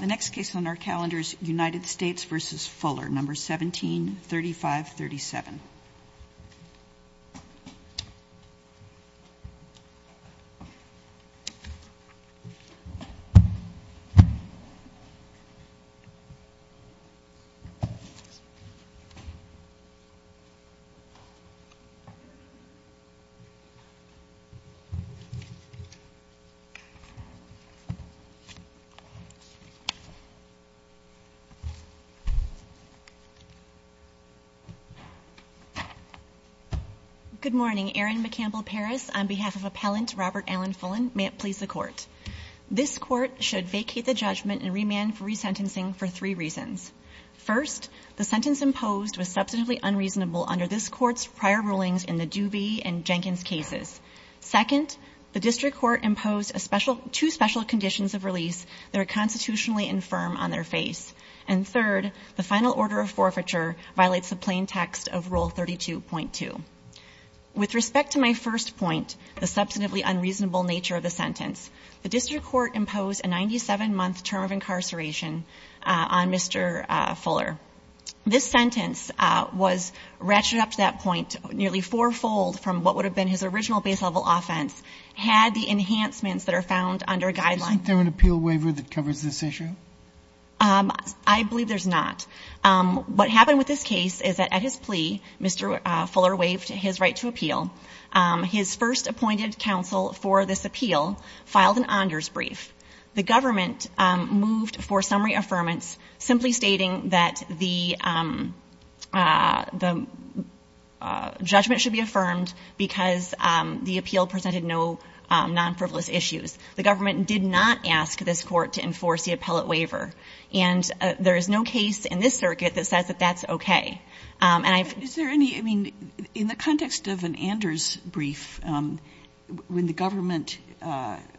The next case on our calendar is United States v. Fuller, numbers 17, 35, 37. Good morning, Erin McCampbell-Parris on behalf of Appellant Robert Alan Fullen, may it please the Court. This Court should vacate the judgment and remand for resentencing for three reasons. First, the sentence imposed was substantively unreasonable under this Court's prior rulings in the Duvee and Jenkins cases. Second, the District Court imposed two special conditions of release that are constitutionally infirm on their face. And third, the final order of forfeiture violates the plain text of Rule 32.2. With respect to my first point, the substantively unreasonable nature of the sentence, the District Court imposed a 97-month term of incarceration on Mr. Fuller. This sentence was ratcheted up to that point nearly fourfold from what would have been his original base-level offense, had the enhancements that are found under Guideline — Isn't there an appeal waiver that covers this issue? I believe there's not. What happened with this case is that at his plea, Mr. Fuller waived his right to appeal. His first appointed counsel for this appeal filed an honors brief. The government moved for summary affirmance simply stating that the judgment should be The appeal presented no non-frivolous issues. The government did not ask this Court to enforce the appellate waiver. And there is no case in this circuit that says that that's okay. And I've — Is there any — I mean, in the context of an Anders brief, when the government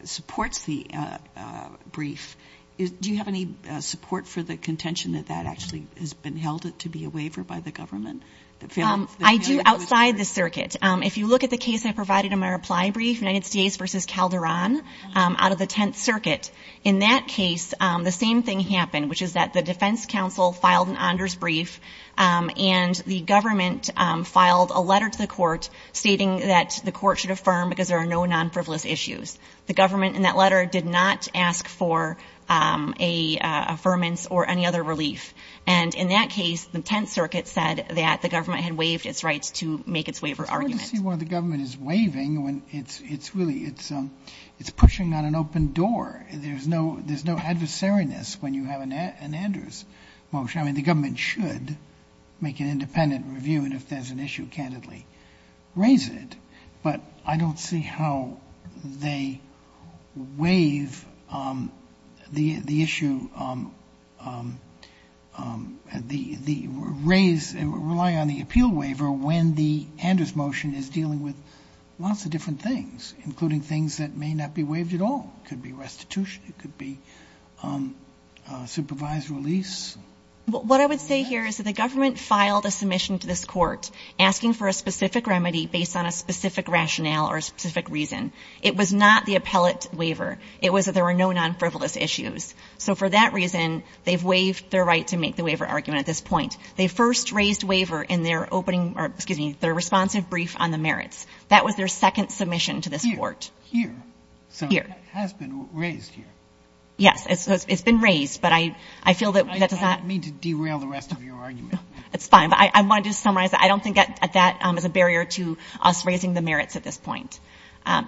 supports the brief, do you have any support for the contention that that actually has been held to be a waiver by the government? I do outside the circuit. If you look at the case I provided in my reply brief, United States v. Calderon, out of the Tenth Circuit, in that case, the same thing happened, which is that the defense counsel filed an Anders brief, and the government filed a letter to the court stating that the court should affirm because there are no non-frivolous issues. The government in that letter did not ask for an affirmance or any other relief. And in that case, the Tenth Circuit said that the government had waived its right to make its waiver argument. It's hard to see why the government is waiving when it's — it's really — it's pushing on an open door. There's no — there's no adversariness when you have an Anders motion. I mean, the government should make an independent review, and if there's an issue, candidly raise it. But I don't see how they waive the issue, the — raise — rely on the appeal waiver when the Anders motion is dealing with lots of different things, including things that may not be waived at all. It could be restitution. It could be supervised release. What I would say here is that the government filed a submission to this court asking for a specific remedy based on a specific rationale or a specific reason. It was not the appellate waiver. It was that there were no non-frivolous issues. So for that reason, they've waived their right to make the waiver argument at this point. They first raised waiver in their opening — or, excuse me, their responsive brief on the merits. That was their second submission to this court. Sotomayor, so it has been raised here. Yes. It's been raised, but I feel that that does not — I don't mean to derail the rest of your argument. It's fine. But I wanted to summarize. I don't think that that is a barrier to us raising the merits at this point.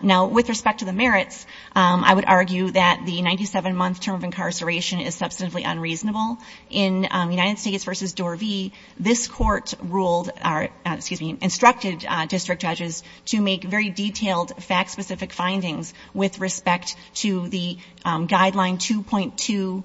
Now, with respect to the merits, I would argue that the 97-month term of incarceration is substantively unreasonable. In United States v. Dorvey, this court ruled — or, excuse me, instructed district judges to make very detailed, fact-specific findings with respect to the Guideline 2.2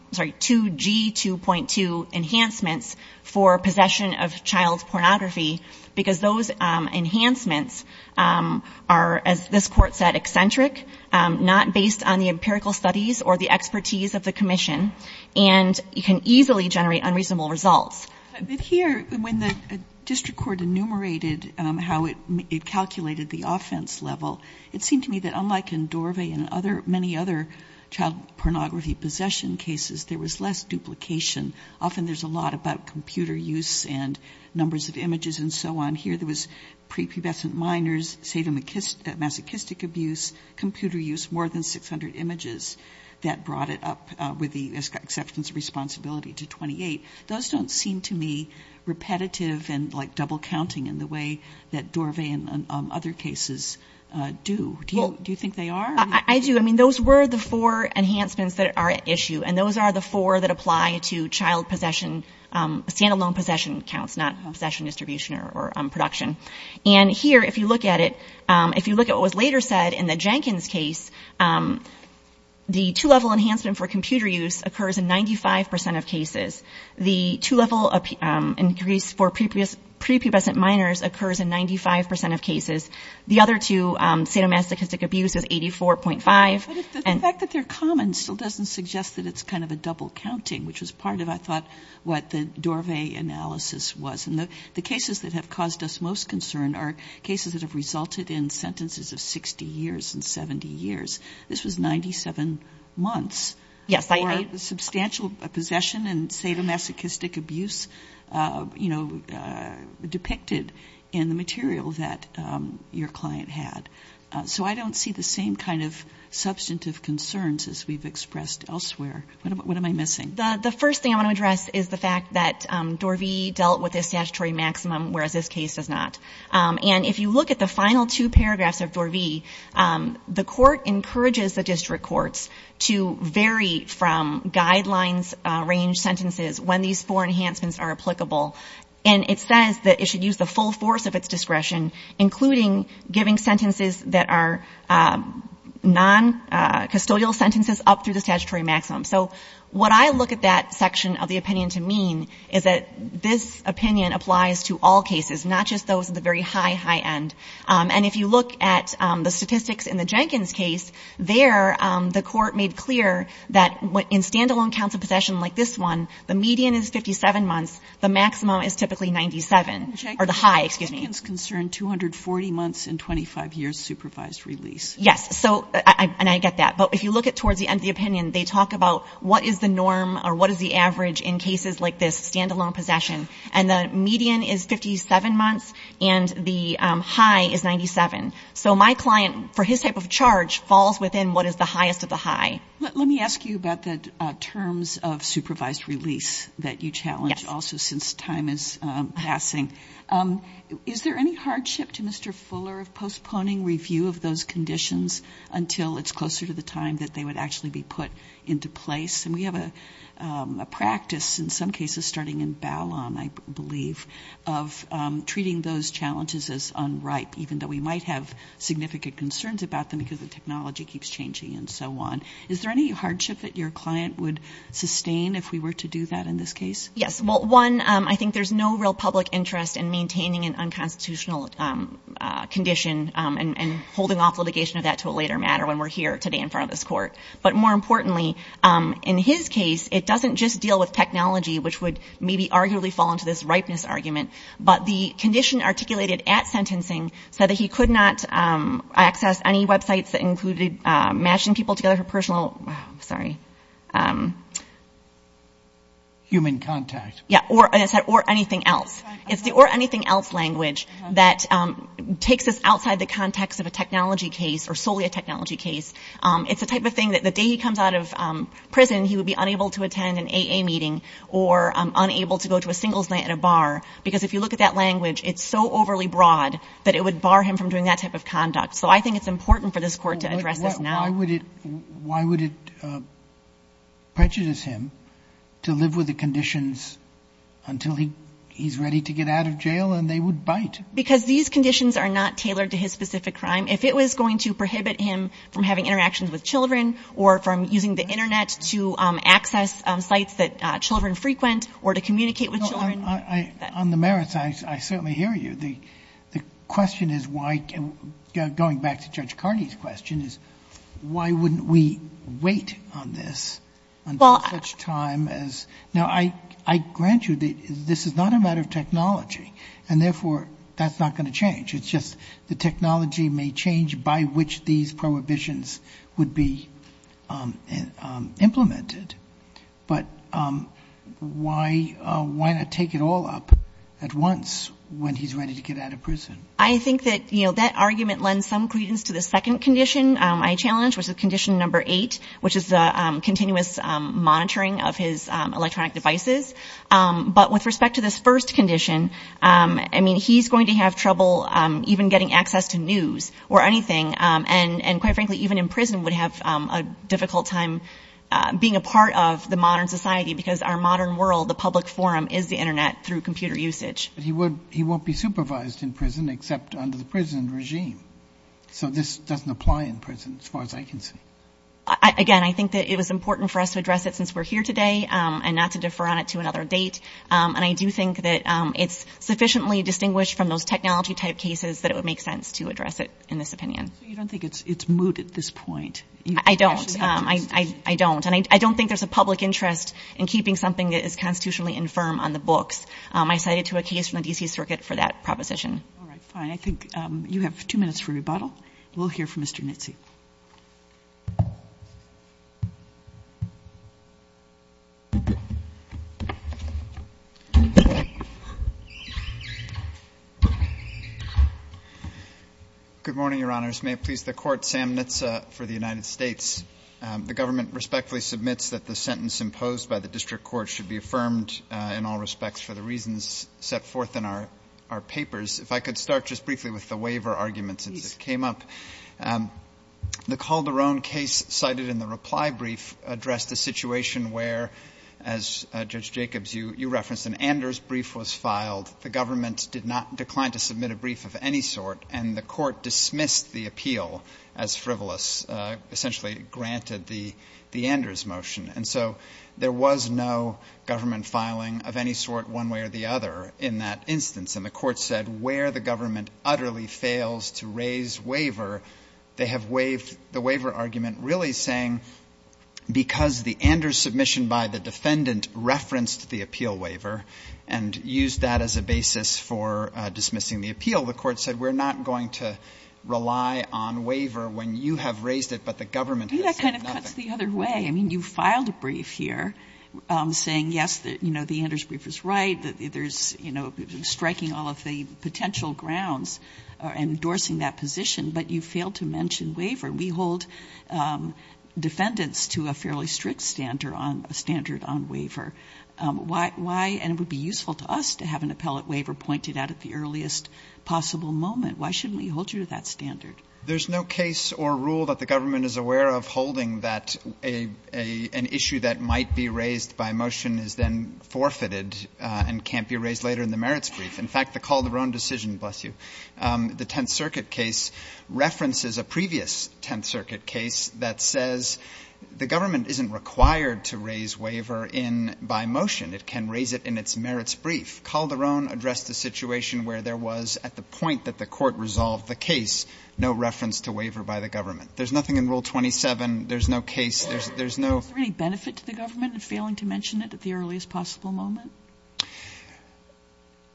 — sorry, 2G2.2 enhancements for possession of child pornography, because those enhancements are, as this court said, eccentric, not based on the empirical studies or the expertise of the commission, and can easily generate unreasonable results. But here, when the district court enumerated how it calculated the offense level, it seemed to me that, unlike in Dorvey and other — many other child pornography possession cases, there was less duplication. Often there's a lot about computer use and numbers of images and so on. Here, there was prepubescent minors, sadomasochistic abuse, computer use, more than 600 images. That brought it up, with the exception of responsibility, to 28. Those don't seem to me repetitive and, like, double-counting in the way that Dorvey and other cases do. Do you think they are? I do. I mean, those were the four enhancements that are at issue, and those are the four that apply to child possession — stand-alone possession counts, not possession distribution or production. And here, if you look at it, if you look at what was later said in the Jenkins case, the two-level enhancement for computer use occurs in 95 percent of cases. The two-level increase for prepubescent minors occurs in 95 percent of cases. The other two, sadomasochistic abuse, is 84.5. But the fact that they're common still doesn't suggest that it's kind of a double-counting, which was part of, I thought, what the Dorvey analysis was. And the cases that have caused us most concern are cases that have resulted in sentences of 60 years and 70 years. This was 97 months for substantial possession and sadomasochistic abuse, you know, depicted in the material that your client had. So I don't see the same kind of substantive concerns as we've expressed elsewhere. What am I missing? The first thing I want to address is the fact that Dorvey dealt with the statutory maximum, whereas this case does not. And if you look at the final two paragraphs of Dorvey, the court encourages the district courts to vary from guidelines-range sentences when these four enhancements are applicable. And it says that it should use the full force of its discretion, including giving sentences that are non-custodial sentences up through the statutory maximum. So what I look at that section of the opinion to mean is that this opinion applies to all cases, not just those at the very high, high end. And if you look at the statistics in the Jenkins case, there the court made clear that in stand-alone counts of possession like this one, the median is 57 months. The maximum is typically 97, or the high, excuse me. Jenkins concerned 240 months and 25 years supervised release. Yes, and I get that. But if you look at towards the end of the opinion, they talk about what is the norm or what is the average in cases like this, stand-alone possession. And the median is 57 months and the high is 97. So my client, for his type of charge, falls within what is the highest of the high. Let me ask you about the terms of supervised release that you challenge also since time is passing. Is there any hardship to Mr. Fuller of postponing review of those conditions until it's closer to the time that they would actually be put into place? And we have a practice in some cases starting in Ballon, I believe, of treating those challenges as unripe, even though we might have significant concerns about them because the technology keeps changing and so on. Is there any hardship that your client would sustain if we were to do that in this case? Yes. Well, one, I think there's no real public interest in maintaining an unconstitutional condition and holding off litigation of that to a later matter when we're here today in front of this court. But more importantly, in his case, it doesn't just deal with technology, which would maybe arguably fall into this ripeness argument. But the condition articulated at sentencing said that he could not access any websites that included matching people together for personal, sorry. Human contact. Yeah. Or anything else. It's the or anything else language that takes us outside the context of a technology case or solely a technology case. It's the type of thing that the day he comes out of prison, he would be unable to attend an AA meeting or unable to go to a singles night at a bar. Because if you look at that language, it's so overly broad that it would bar him from doing that type of conduct. So I think it's important for this court to address this now. Why would it prejudice him to live with the conditions until he's ready to get out of jail and they would bite? Because these conditions are not tailored to his specific crime. If it was going to prohibit him from having interactions with children or from using the internet to access sites that children frequent or to communicate with children. On the merits, I certainly hear you. The question is why, going back to Judge Carney's question, is why wouldn't we wait on this until such time as, now I grant you that this is not a matter of technology and therefore that's not going to change. It's just the technology may change by which these prohibitions would be implemented. But why not take it all up at once when he's ready to get out of prison? I think that that argument lends some credence to the second condition I challenged, which is condition number eight, which is the continuous monitoring of his electronic devices. But with respect to this first condition, I mean, he's going to have trouble even getting access to news or anything. And quite frankly, even in prison would have a difficult time being a part of the modern society because our modern world, the public forum, is the internet through computer usage. He won't be supervised in prison except under the prison regime. So this doesn't apply in prison, as far as I can see. Again, I think that it was important for us to address it since we're here today and not to defer on it to another date. And I do think that it's sufficiently distinguished from those technology type cases that it would make sense to address it in this opinion. So you don't think it's moot at this point? I don't. I don't. And I don't think there's a public interest in keeping something that is constitutionally infirm on the books. I cited to a case from the D.C. Circuit for that proposition. All right. Fine. I think you have two minutes for rebuttal. We'll hear from Mr. Nitze. Mr. Nitze. Good morning, Your Honors. May it please the Court, Sam Nitze for the United States. The government respectfully submits that the sentence imposed by the district court should be affirmed in all respects for the reasons set forth in our papers. If I could start just briefly with the waiver argument since it came up. The Calderon case cited in the reply brief addressed a situation where, as Judge Jacobs, you referenced, an Anders brief was filed. The government did not decline to submit a brief of any sort, and the court dismissed the appeal as frivolous, essentially granted the Anders motion. And so there was no government filing of any sort one way or the other in that instance. And the court said where the government utterly fails to raise waiver, they have waived the waiver argument really saying because the Anders submission by the defendant referenced the appeal waiver and used that as a basis for dismissing the appeal, the court said we're not going to rely on waiver when you have raised it, but the government has said nothing. I think that kind of cuts the other way. I mean, you filed a brief here saying, yes, you know, the Anders brief is right, that there's, you know, striking all of the potential grounds endorsing that position, but you failed to mention waiver. We hold defendants to a fairly strict standard on waiver. Why, and it would be useful to us to have an appellate waiver pointed out at the earliest possible moment. Why shouldn't we hold you to that standard? There's no case or rule that the government is aware of holding that an issue that might be raised by motion is then forfeited and can't be raised later in the merits brief. In fact, the Calderon decision, bless you, the Tenth Circuit case references a previous Tenth Circuit case that says the government isn't required to raise waiver in by motion. It can raise it in its merits brief. Calderon addressed the situation where there was, at the point that the court resolved the case, no reference to waiver by the government. There's nothing in Rule 27. There's no case. There's no ----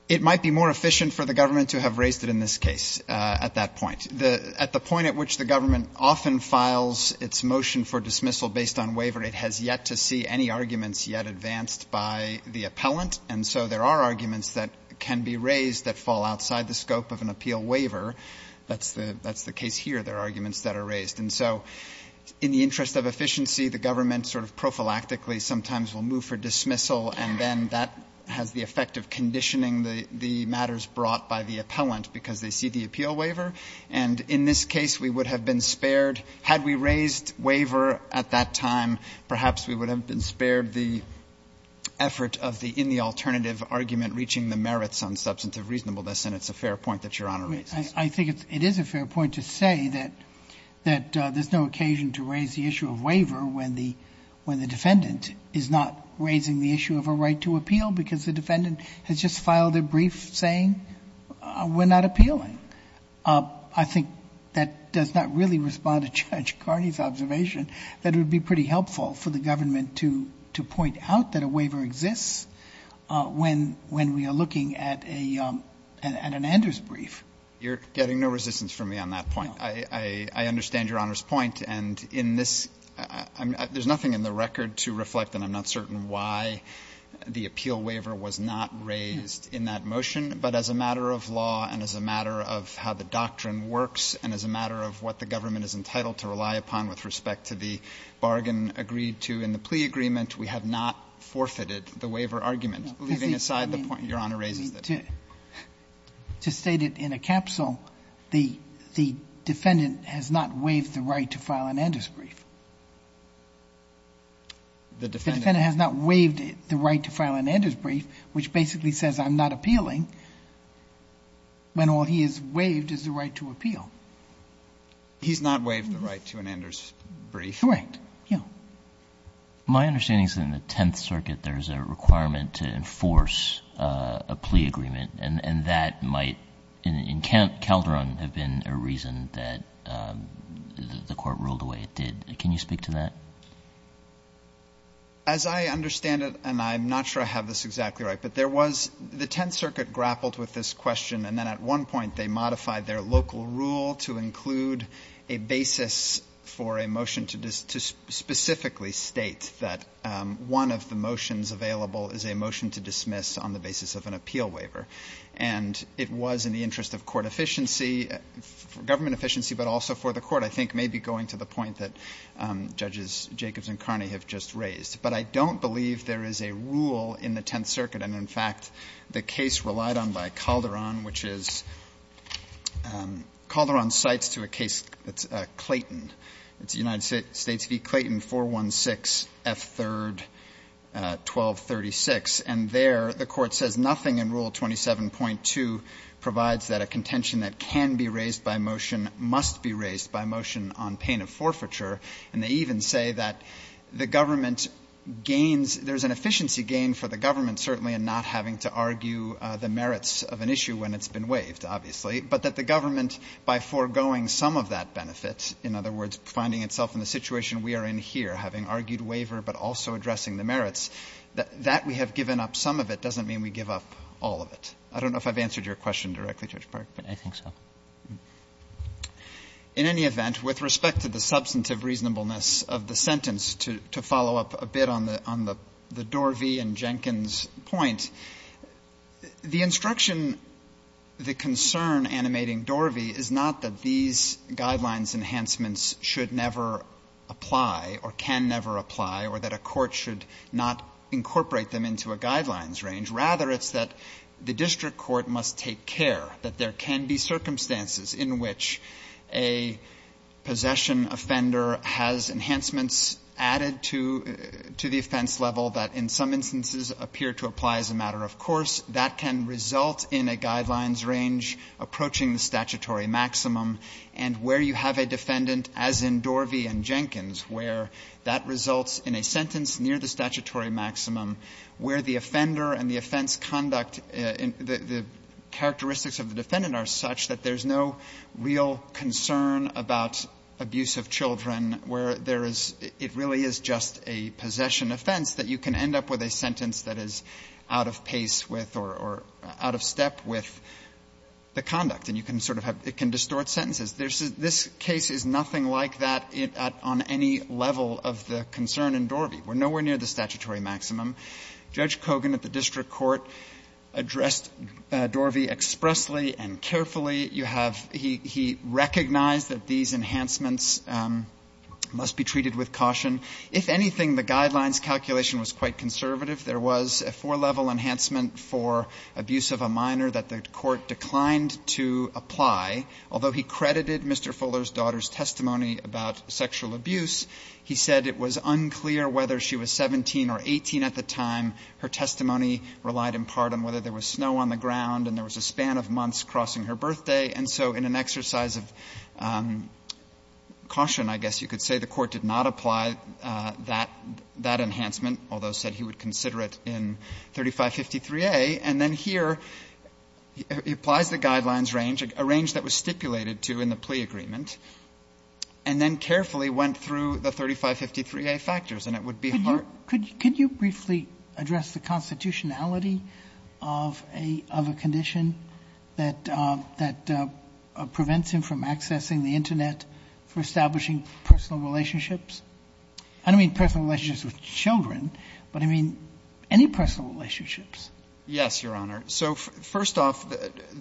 It might be more efficient for the government to have raised it in this case at that point. At the point at which the government often files its motion for dismissal based on waiver, it has yet to see any arguments yet advanced by the appellant. And so there are arguments that can be raised that fall outside the scope of an appeal waiver. That's the case here. There are arguments that are raised. And so in the interest of efficiency, the government sort of prophylactically sometimes will move for dismissal, and then that has the effect of conditioning the matters brought by the appellant because they see the appeal waiver. And in this case, we would have been spared, had we raised waiver at that time, perhaps we would have been spared the effort of the in the alternative argument reaching the merits on substantive reasonableness. And it's a fair point that Your Honor raised. I think it is a fair point to say that there's no occasion to raise the issue of waiver when the defendant is not raising the issue of a right to appeal because the defendant has just filed a brief saying we're not appealing. I think that does not really respond to Judge Kearney's observation that it would be pretty helpful for the government to point out that a waiver exists when we are looking at an Anders brief. You're getting no resistance from me on that point. I understand Your Honor's point. And in this, there's nothing in the record to reflect, and I'm not certain why, the appeal waiver was not raised in that motion. But as a matter of law and as a matter of how the doctrine works and as a matter of what the government is entitled to rely upon with respect to the bargain agreed to in the plea agreement, we have not forfeited the waiver argument, leaving aside the point Your Honor raises. To state it in a capsule, the defendant has not waived the right to file an Anders brief. The defendant has not waived the right to file an Anders brief, which basically says I'm not appealing, when all he has waived is the right to appeal. He's not waived the right to an Anders brief? Correct. Yeah. My understanding is in the Tenth Circuit, there's a requirement to enforce a plea agreement, and that might, in Calderon, have been a reason that the court ruled the way it did. Can you speak to that? As I understand it, and I'm not sure I have this exactly right, but there was the Tenth Circuit grappled with this question, and then at one point they modified their local rule to include a basis for a motion to specifically state that one of the motions available is a motion to dismiss on the basis of an appeal waiver. And it was in the interest of court efficiency, government efficiency, but also for the court, I think maybe going to the point that Judges Jacobs and Carney have just raised. But I don't believe there is a rule in the Tenth Circuit, and in fact, the case relied on a motion done by Calderon, which is Calderon cites to a case that's Clayton. It's United States v. Clayton, 416F3-1236, and there the court says nothing in Rule 27.2 provides that a contention that can be raised by motion must be raised by motion on pain of forfeiture, and they even say that the government gains, there's an efficiency gain for the government certainly in not having to argue the merits of an issue when it's been waived, obviously, but that the government, by foregoing some of that benefit, in other words, finding itself in the situation we are in here, having argued waiver but also addressing the merits, that we have given up some of it doesn't mean we give up all of it. I don't know if I've answered your question directly, Judge Park, but I think so. In any event, with respect to the substantive reasonableness of the sentence, to follow up a bit on the Dorvey and Jenkins point, the instruction, the concern animating Dorvey is not that these guidelines enhancements should never apply or can never apply or that a court should not incorporate them into a guidelines range. Rather, it's that the district court must take care that there can be circumstances in which a possession offender has enhancements added to the district court's to the offense level that in some instances appear to apply as a matter of course. That can result in a guidelines range approaching the statutory maximum, and where you have a defendant, as in Dorvey and Jenkins, where that results in a sentence near the statutory maximum, where the offender and the offense conduct, the characteristics of the defendant are such that there's no real concern about abuse of children, where there is, it really is just a possession offense that you can end up with a sentence that is out of pace with or out of step with the conduct. And you can sort of have, it can distort sentences. There's, this case is nothing like that on any level of the concern in Dorvey. We're nowhere near the statutory maximum. Judge Kogan at the district court addressed Dorvey expressly and carefully. You have, he recognized that these enhancements must be treated with caution. If anything, the guidelines calculation was quite conservative. There was a four-level enhancement for abuse of a minor that the court declined to apply, although he credited Mr. Fuller's daughter's testimony about sexual abuse. He said it was unclear whether she was 17 or 18 at the time. Her testimony relied in part on whether there was snow on the ground and there was a birthday, and so in an exercise of caution, I guess you could say, the court did not apply that enhancement, although he said he would consider it in 3553A. And then here, he applies the guidelines range, a range that was stipulated to in the plea agreement, and then carefully went through the 3553A factors, and it would be hard. Sotomayor, could you briefly address the constitutionality of a condition that prevents him from accessing the Internet for establishing personal relationships? I don't mean personal relationships with children, but I mean any personal relationships. Yes, Your Honor. So first off,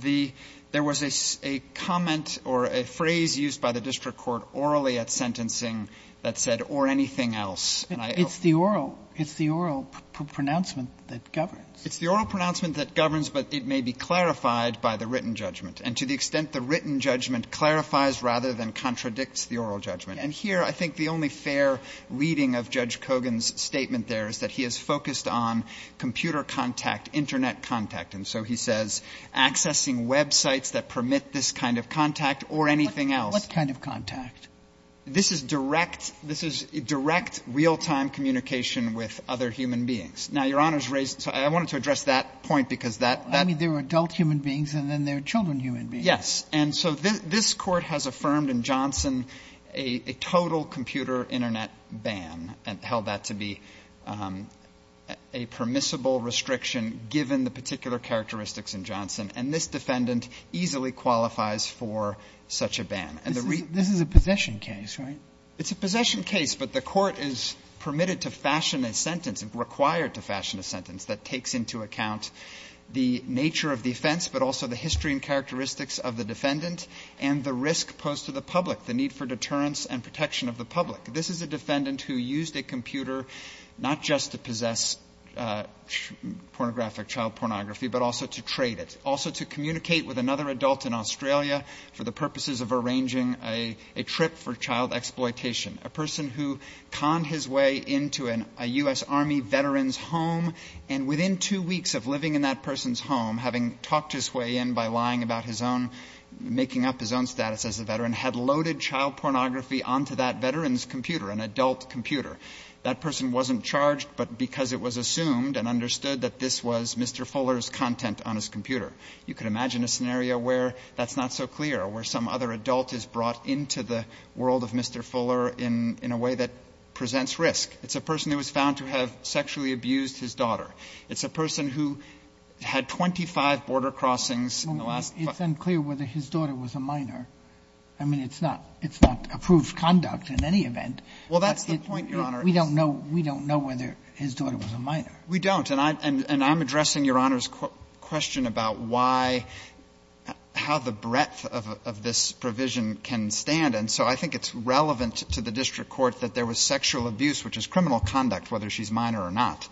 there was a comment or a phrase used by the district court orally at sentencing that said, or anything else. It's the oral, it's the oral pronouncement that governs. It's the oral pronouncement that governs, but it may be clarified by the written judgment. And to the extent the written judgment clarifies rather than contradicts the oral judgment. And here, I think the only fair reading of Judge Kogan's statement there is that he is focused on computer contact, Internet contact. And so he says, accessing websites that permit this kind of contact or anything else. What kind of contact? This is direct, this is direct, real-time communication with other human beings. Now, Your Honor's raised, so I wanted to address that point because that. I mean, there are adult human beings and then there are children human beings. Yes. And so this Court has affirmed in Johnson a total computer Internet ban and held that to be a permissible restriction, given the particular characteristics in Johnson. And this defendant easily qualifies for such a ban. And the reason. This is a possession case, right? It's a possession case, but the Court is permitted to fashion a sentence, required to fashion a sentence that takes into account the nature of the offense, but also the history and characteristics of the defendant and the risk posed to the public, the need for deterrence and protection of the public. This is a defendant who used a computer not just to possess pornographic child pornography, but also to trade it, also to communicate with another adult in Australia for the purposes of arranging a trip for child exploitation, a person who conned his way into a U.S. Army veteran's home, and within two weeks of living in that person's home, having talked his way in by lying about his own, making up his own status as a veteran, had loaded child pornography onto that veteran's computer, an adult computer. That person wasn't charged, but because it was assumed and understood that this was Mr. Fuller's content on his computer. You can imagine a scenario where that's not so clear, where some other adult is brought into the world of Mr. Fuller in a way that presents risk. It's a person who was found to have sexually abused his daughter. It's a person who had 25 border crossings in the last five years. Sotomayor, it's unclear whether his daughter was a minor. I mean, it's not approved conduct in any event. Well, that's the point, Your Honor. We don't know whether his daughter was a minor. We don't. And I'm addressing Your Honor's question about why, how the breadth of this provision can stand, and so I think it's relevant to the district court that there was sexual abuse, which is criminal conduct, whether she's minor or not,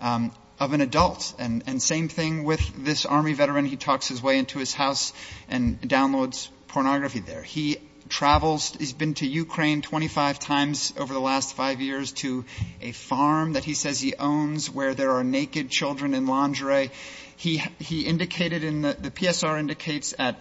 of an adult. And same thing with this Army veteran. He talks his way into his house and downloads pornography there. He travels. He's been to Ukraine 25 times over the last five years to a farm that he says he owns where there are naked children in lingerie. He indicated in the PSR indicates at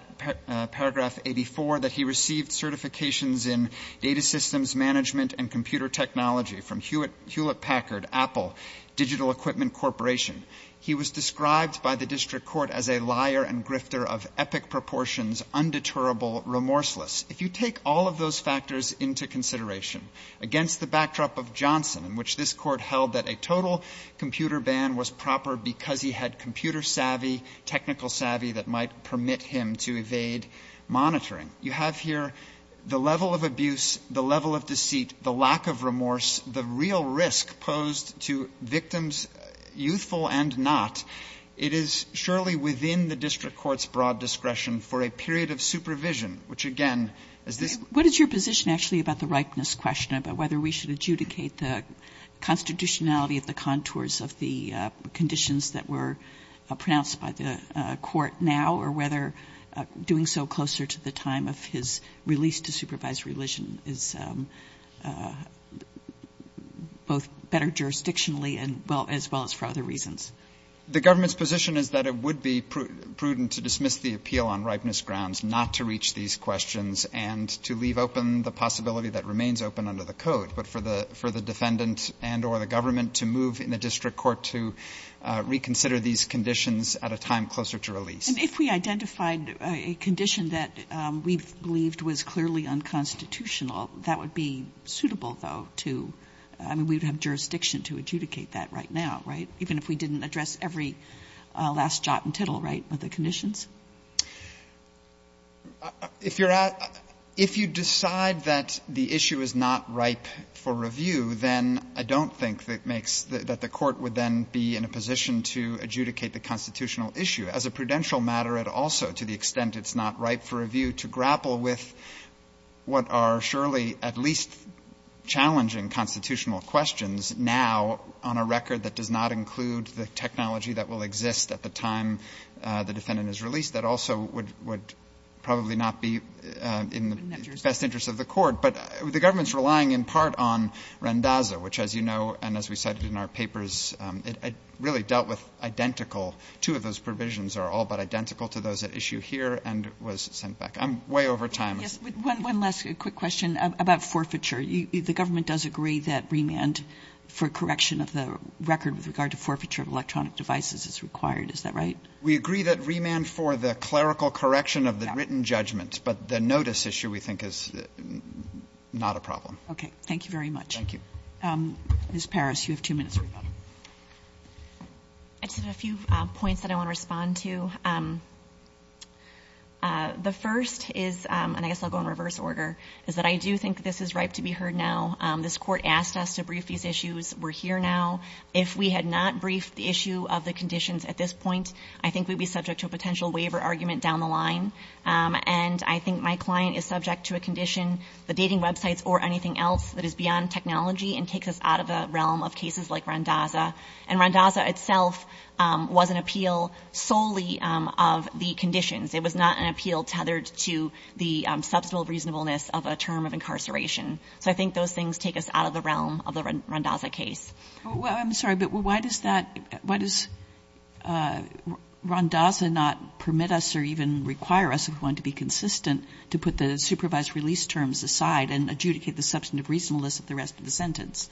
paragraph 84 that he received certifications in data systems management and computer technology from Hewlett Packard, Apple, Digital Equipment Corporation. He was described by the district court as a liar and grifter of epic proportions, undeterrable, remorseless. If you take all of those factors into consideration, against the backdrop of Johnson, in which this court held that a total computer ban was proper because he had computer savvy, technical savvy that might permit him to evade monitoring, you have here the level of abuse, the level of deceit, the lack of remorse, the real risk posed to victims, youthful and not. It is surely within the district court's broad discretion for a period of supervision, which, again, is this. What is your position actually about the ripeness question, about whether we should adjudicate the constitutionality of the contours of the conditions that were pronounced by the court now or whether doing so closer to the time of his release to supervised religion is both better jurisdictionally as well as for other reasons? The government's position is that it would be prudent to dismiss the appeal on ripeness grounds, not to reach these questions and to leave open the possibility that remains open under the code, but for the defendant and or the government to move in the district court to reconsider these conditions at a time closer to release. And if we identified a condition that we believed was clearly unconstitutional, that would be suitable, though, to – I mean, we would have jurisdiction to adjudicate that right now, right, even if we didn't address every last jot and tittle, right, with the conditions? If you're at – if you decide that the issue is not ripe for review, then I don't think that makes – that the court would then be in a position to adjudicate the constitutional issue. As a prudential matter, it also, to the extent it's not ripe for review, to grapple with what are surely at least challenging constitutional questions now on a record that does not include the technology that will exist at the time the defendant is released that also would probably not be in the best interest of the court. But the government's relying in part on Randazzo, which, as you know, and as we cited in our papers, it really dealt with identical – two of those provisions are all but identical to those at issue here and was sent back. I'm way over time. Yes. One last quick question about forfeiture. The government does agree that remand for correction of the record with regard to forfeiture of electronic devices is required, is that right? We agree that remand for the clerical correction of the written judgment. But the notice issue, we think, is not a problem. Okay. Thank you very much. Thank you. Ms. Parris, you have two minutes. I just have a few points that I want to respond to. The first is – and I guess I'll go in reverse order – is that I do think this is ripe to be heard now. This Court asked us to brief these issues. We're here now. If we had not briefed the issue of the conditions at this point, I think we'd be subject to a potential waiver argument down the line. And I think my client is subject to a condition, the dating websites or anything else, that is beyond technology and takes us out of the realm of cases like Randazza. And Randazza itself was an appeal solely of the conditions. It was not an appeal tethered to the substantial reasonableness of a term of incarceration. So I think those things take us out of the realm of the Randazza case. Well, I'm sorry, but why does that – why does Randazza not permit us or even require us, if we want to be consistent, to put the supervised release terms aside and adjudicate the substantive reasonableness of the rest of the sentence?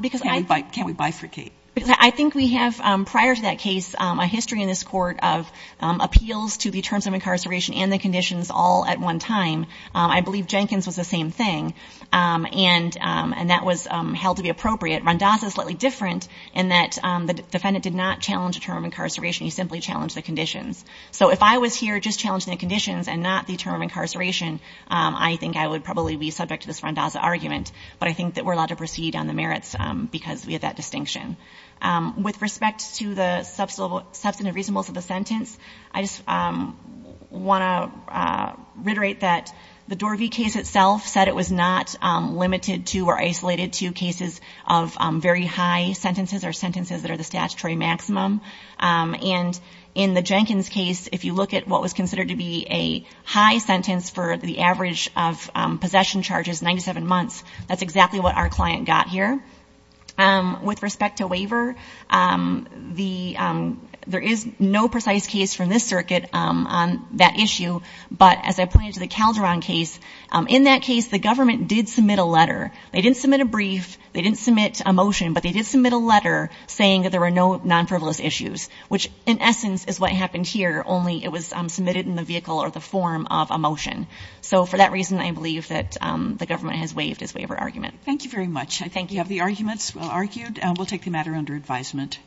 Because I – Can't we bifurcate? I think we have, prior to that case, a history in this Court of appeals to the terms of incarceration and the conditions all at one time. I believe Jenkins was the same thing, and that was held to be appropriate. Randazza is slightly different in that the defendant did not challenge a term of incarceration. He simply challenged the conditions. So if I was here just challenging the conditions and not the term of incarceration, I think I would probably be subject to this Randazza argument. But I think that we're allowed to proceed on the merits because we have that distinction. With respect to the substantive reasonableness of the sentence, I just want to reiterate that the Dorvey case itself said it was not limited to or isolated to cases of very high sentences or sentences that are the statutory maximum. And in the Jenkins case, if you look at what was considered to be a high sentence for the average of possession charges, 97 months, that's exactly what our client got here. With respect to waiver, there is no precise case from this circuit on that issue, but as I pointed to the Calderon case, in that case, the government did submit a letter. They didn't submit a brief, they didn't submit a motion, but they did submit a letter saying that there were no non-frivolous issues, which in essence is what happened here, only it was submitted in the vehicle or the form of a motion. So for that reason, I believe that the government has waived its waiver argument. Thank you very much. I think you have the arguments argued, and we'll take the matter under advisement.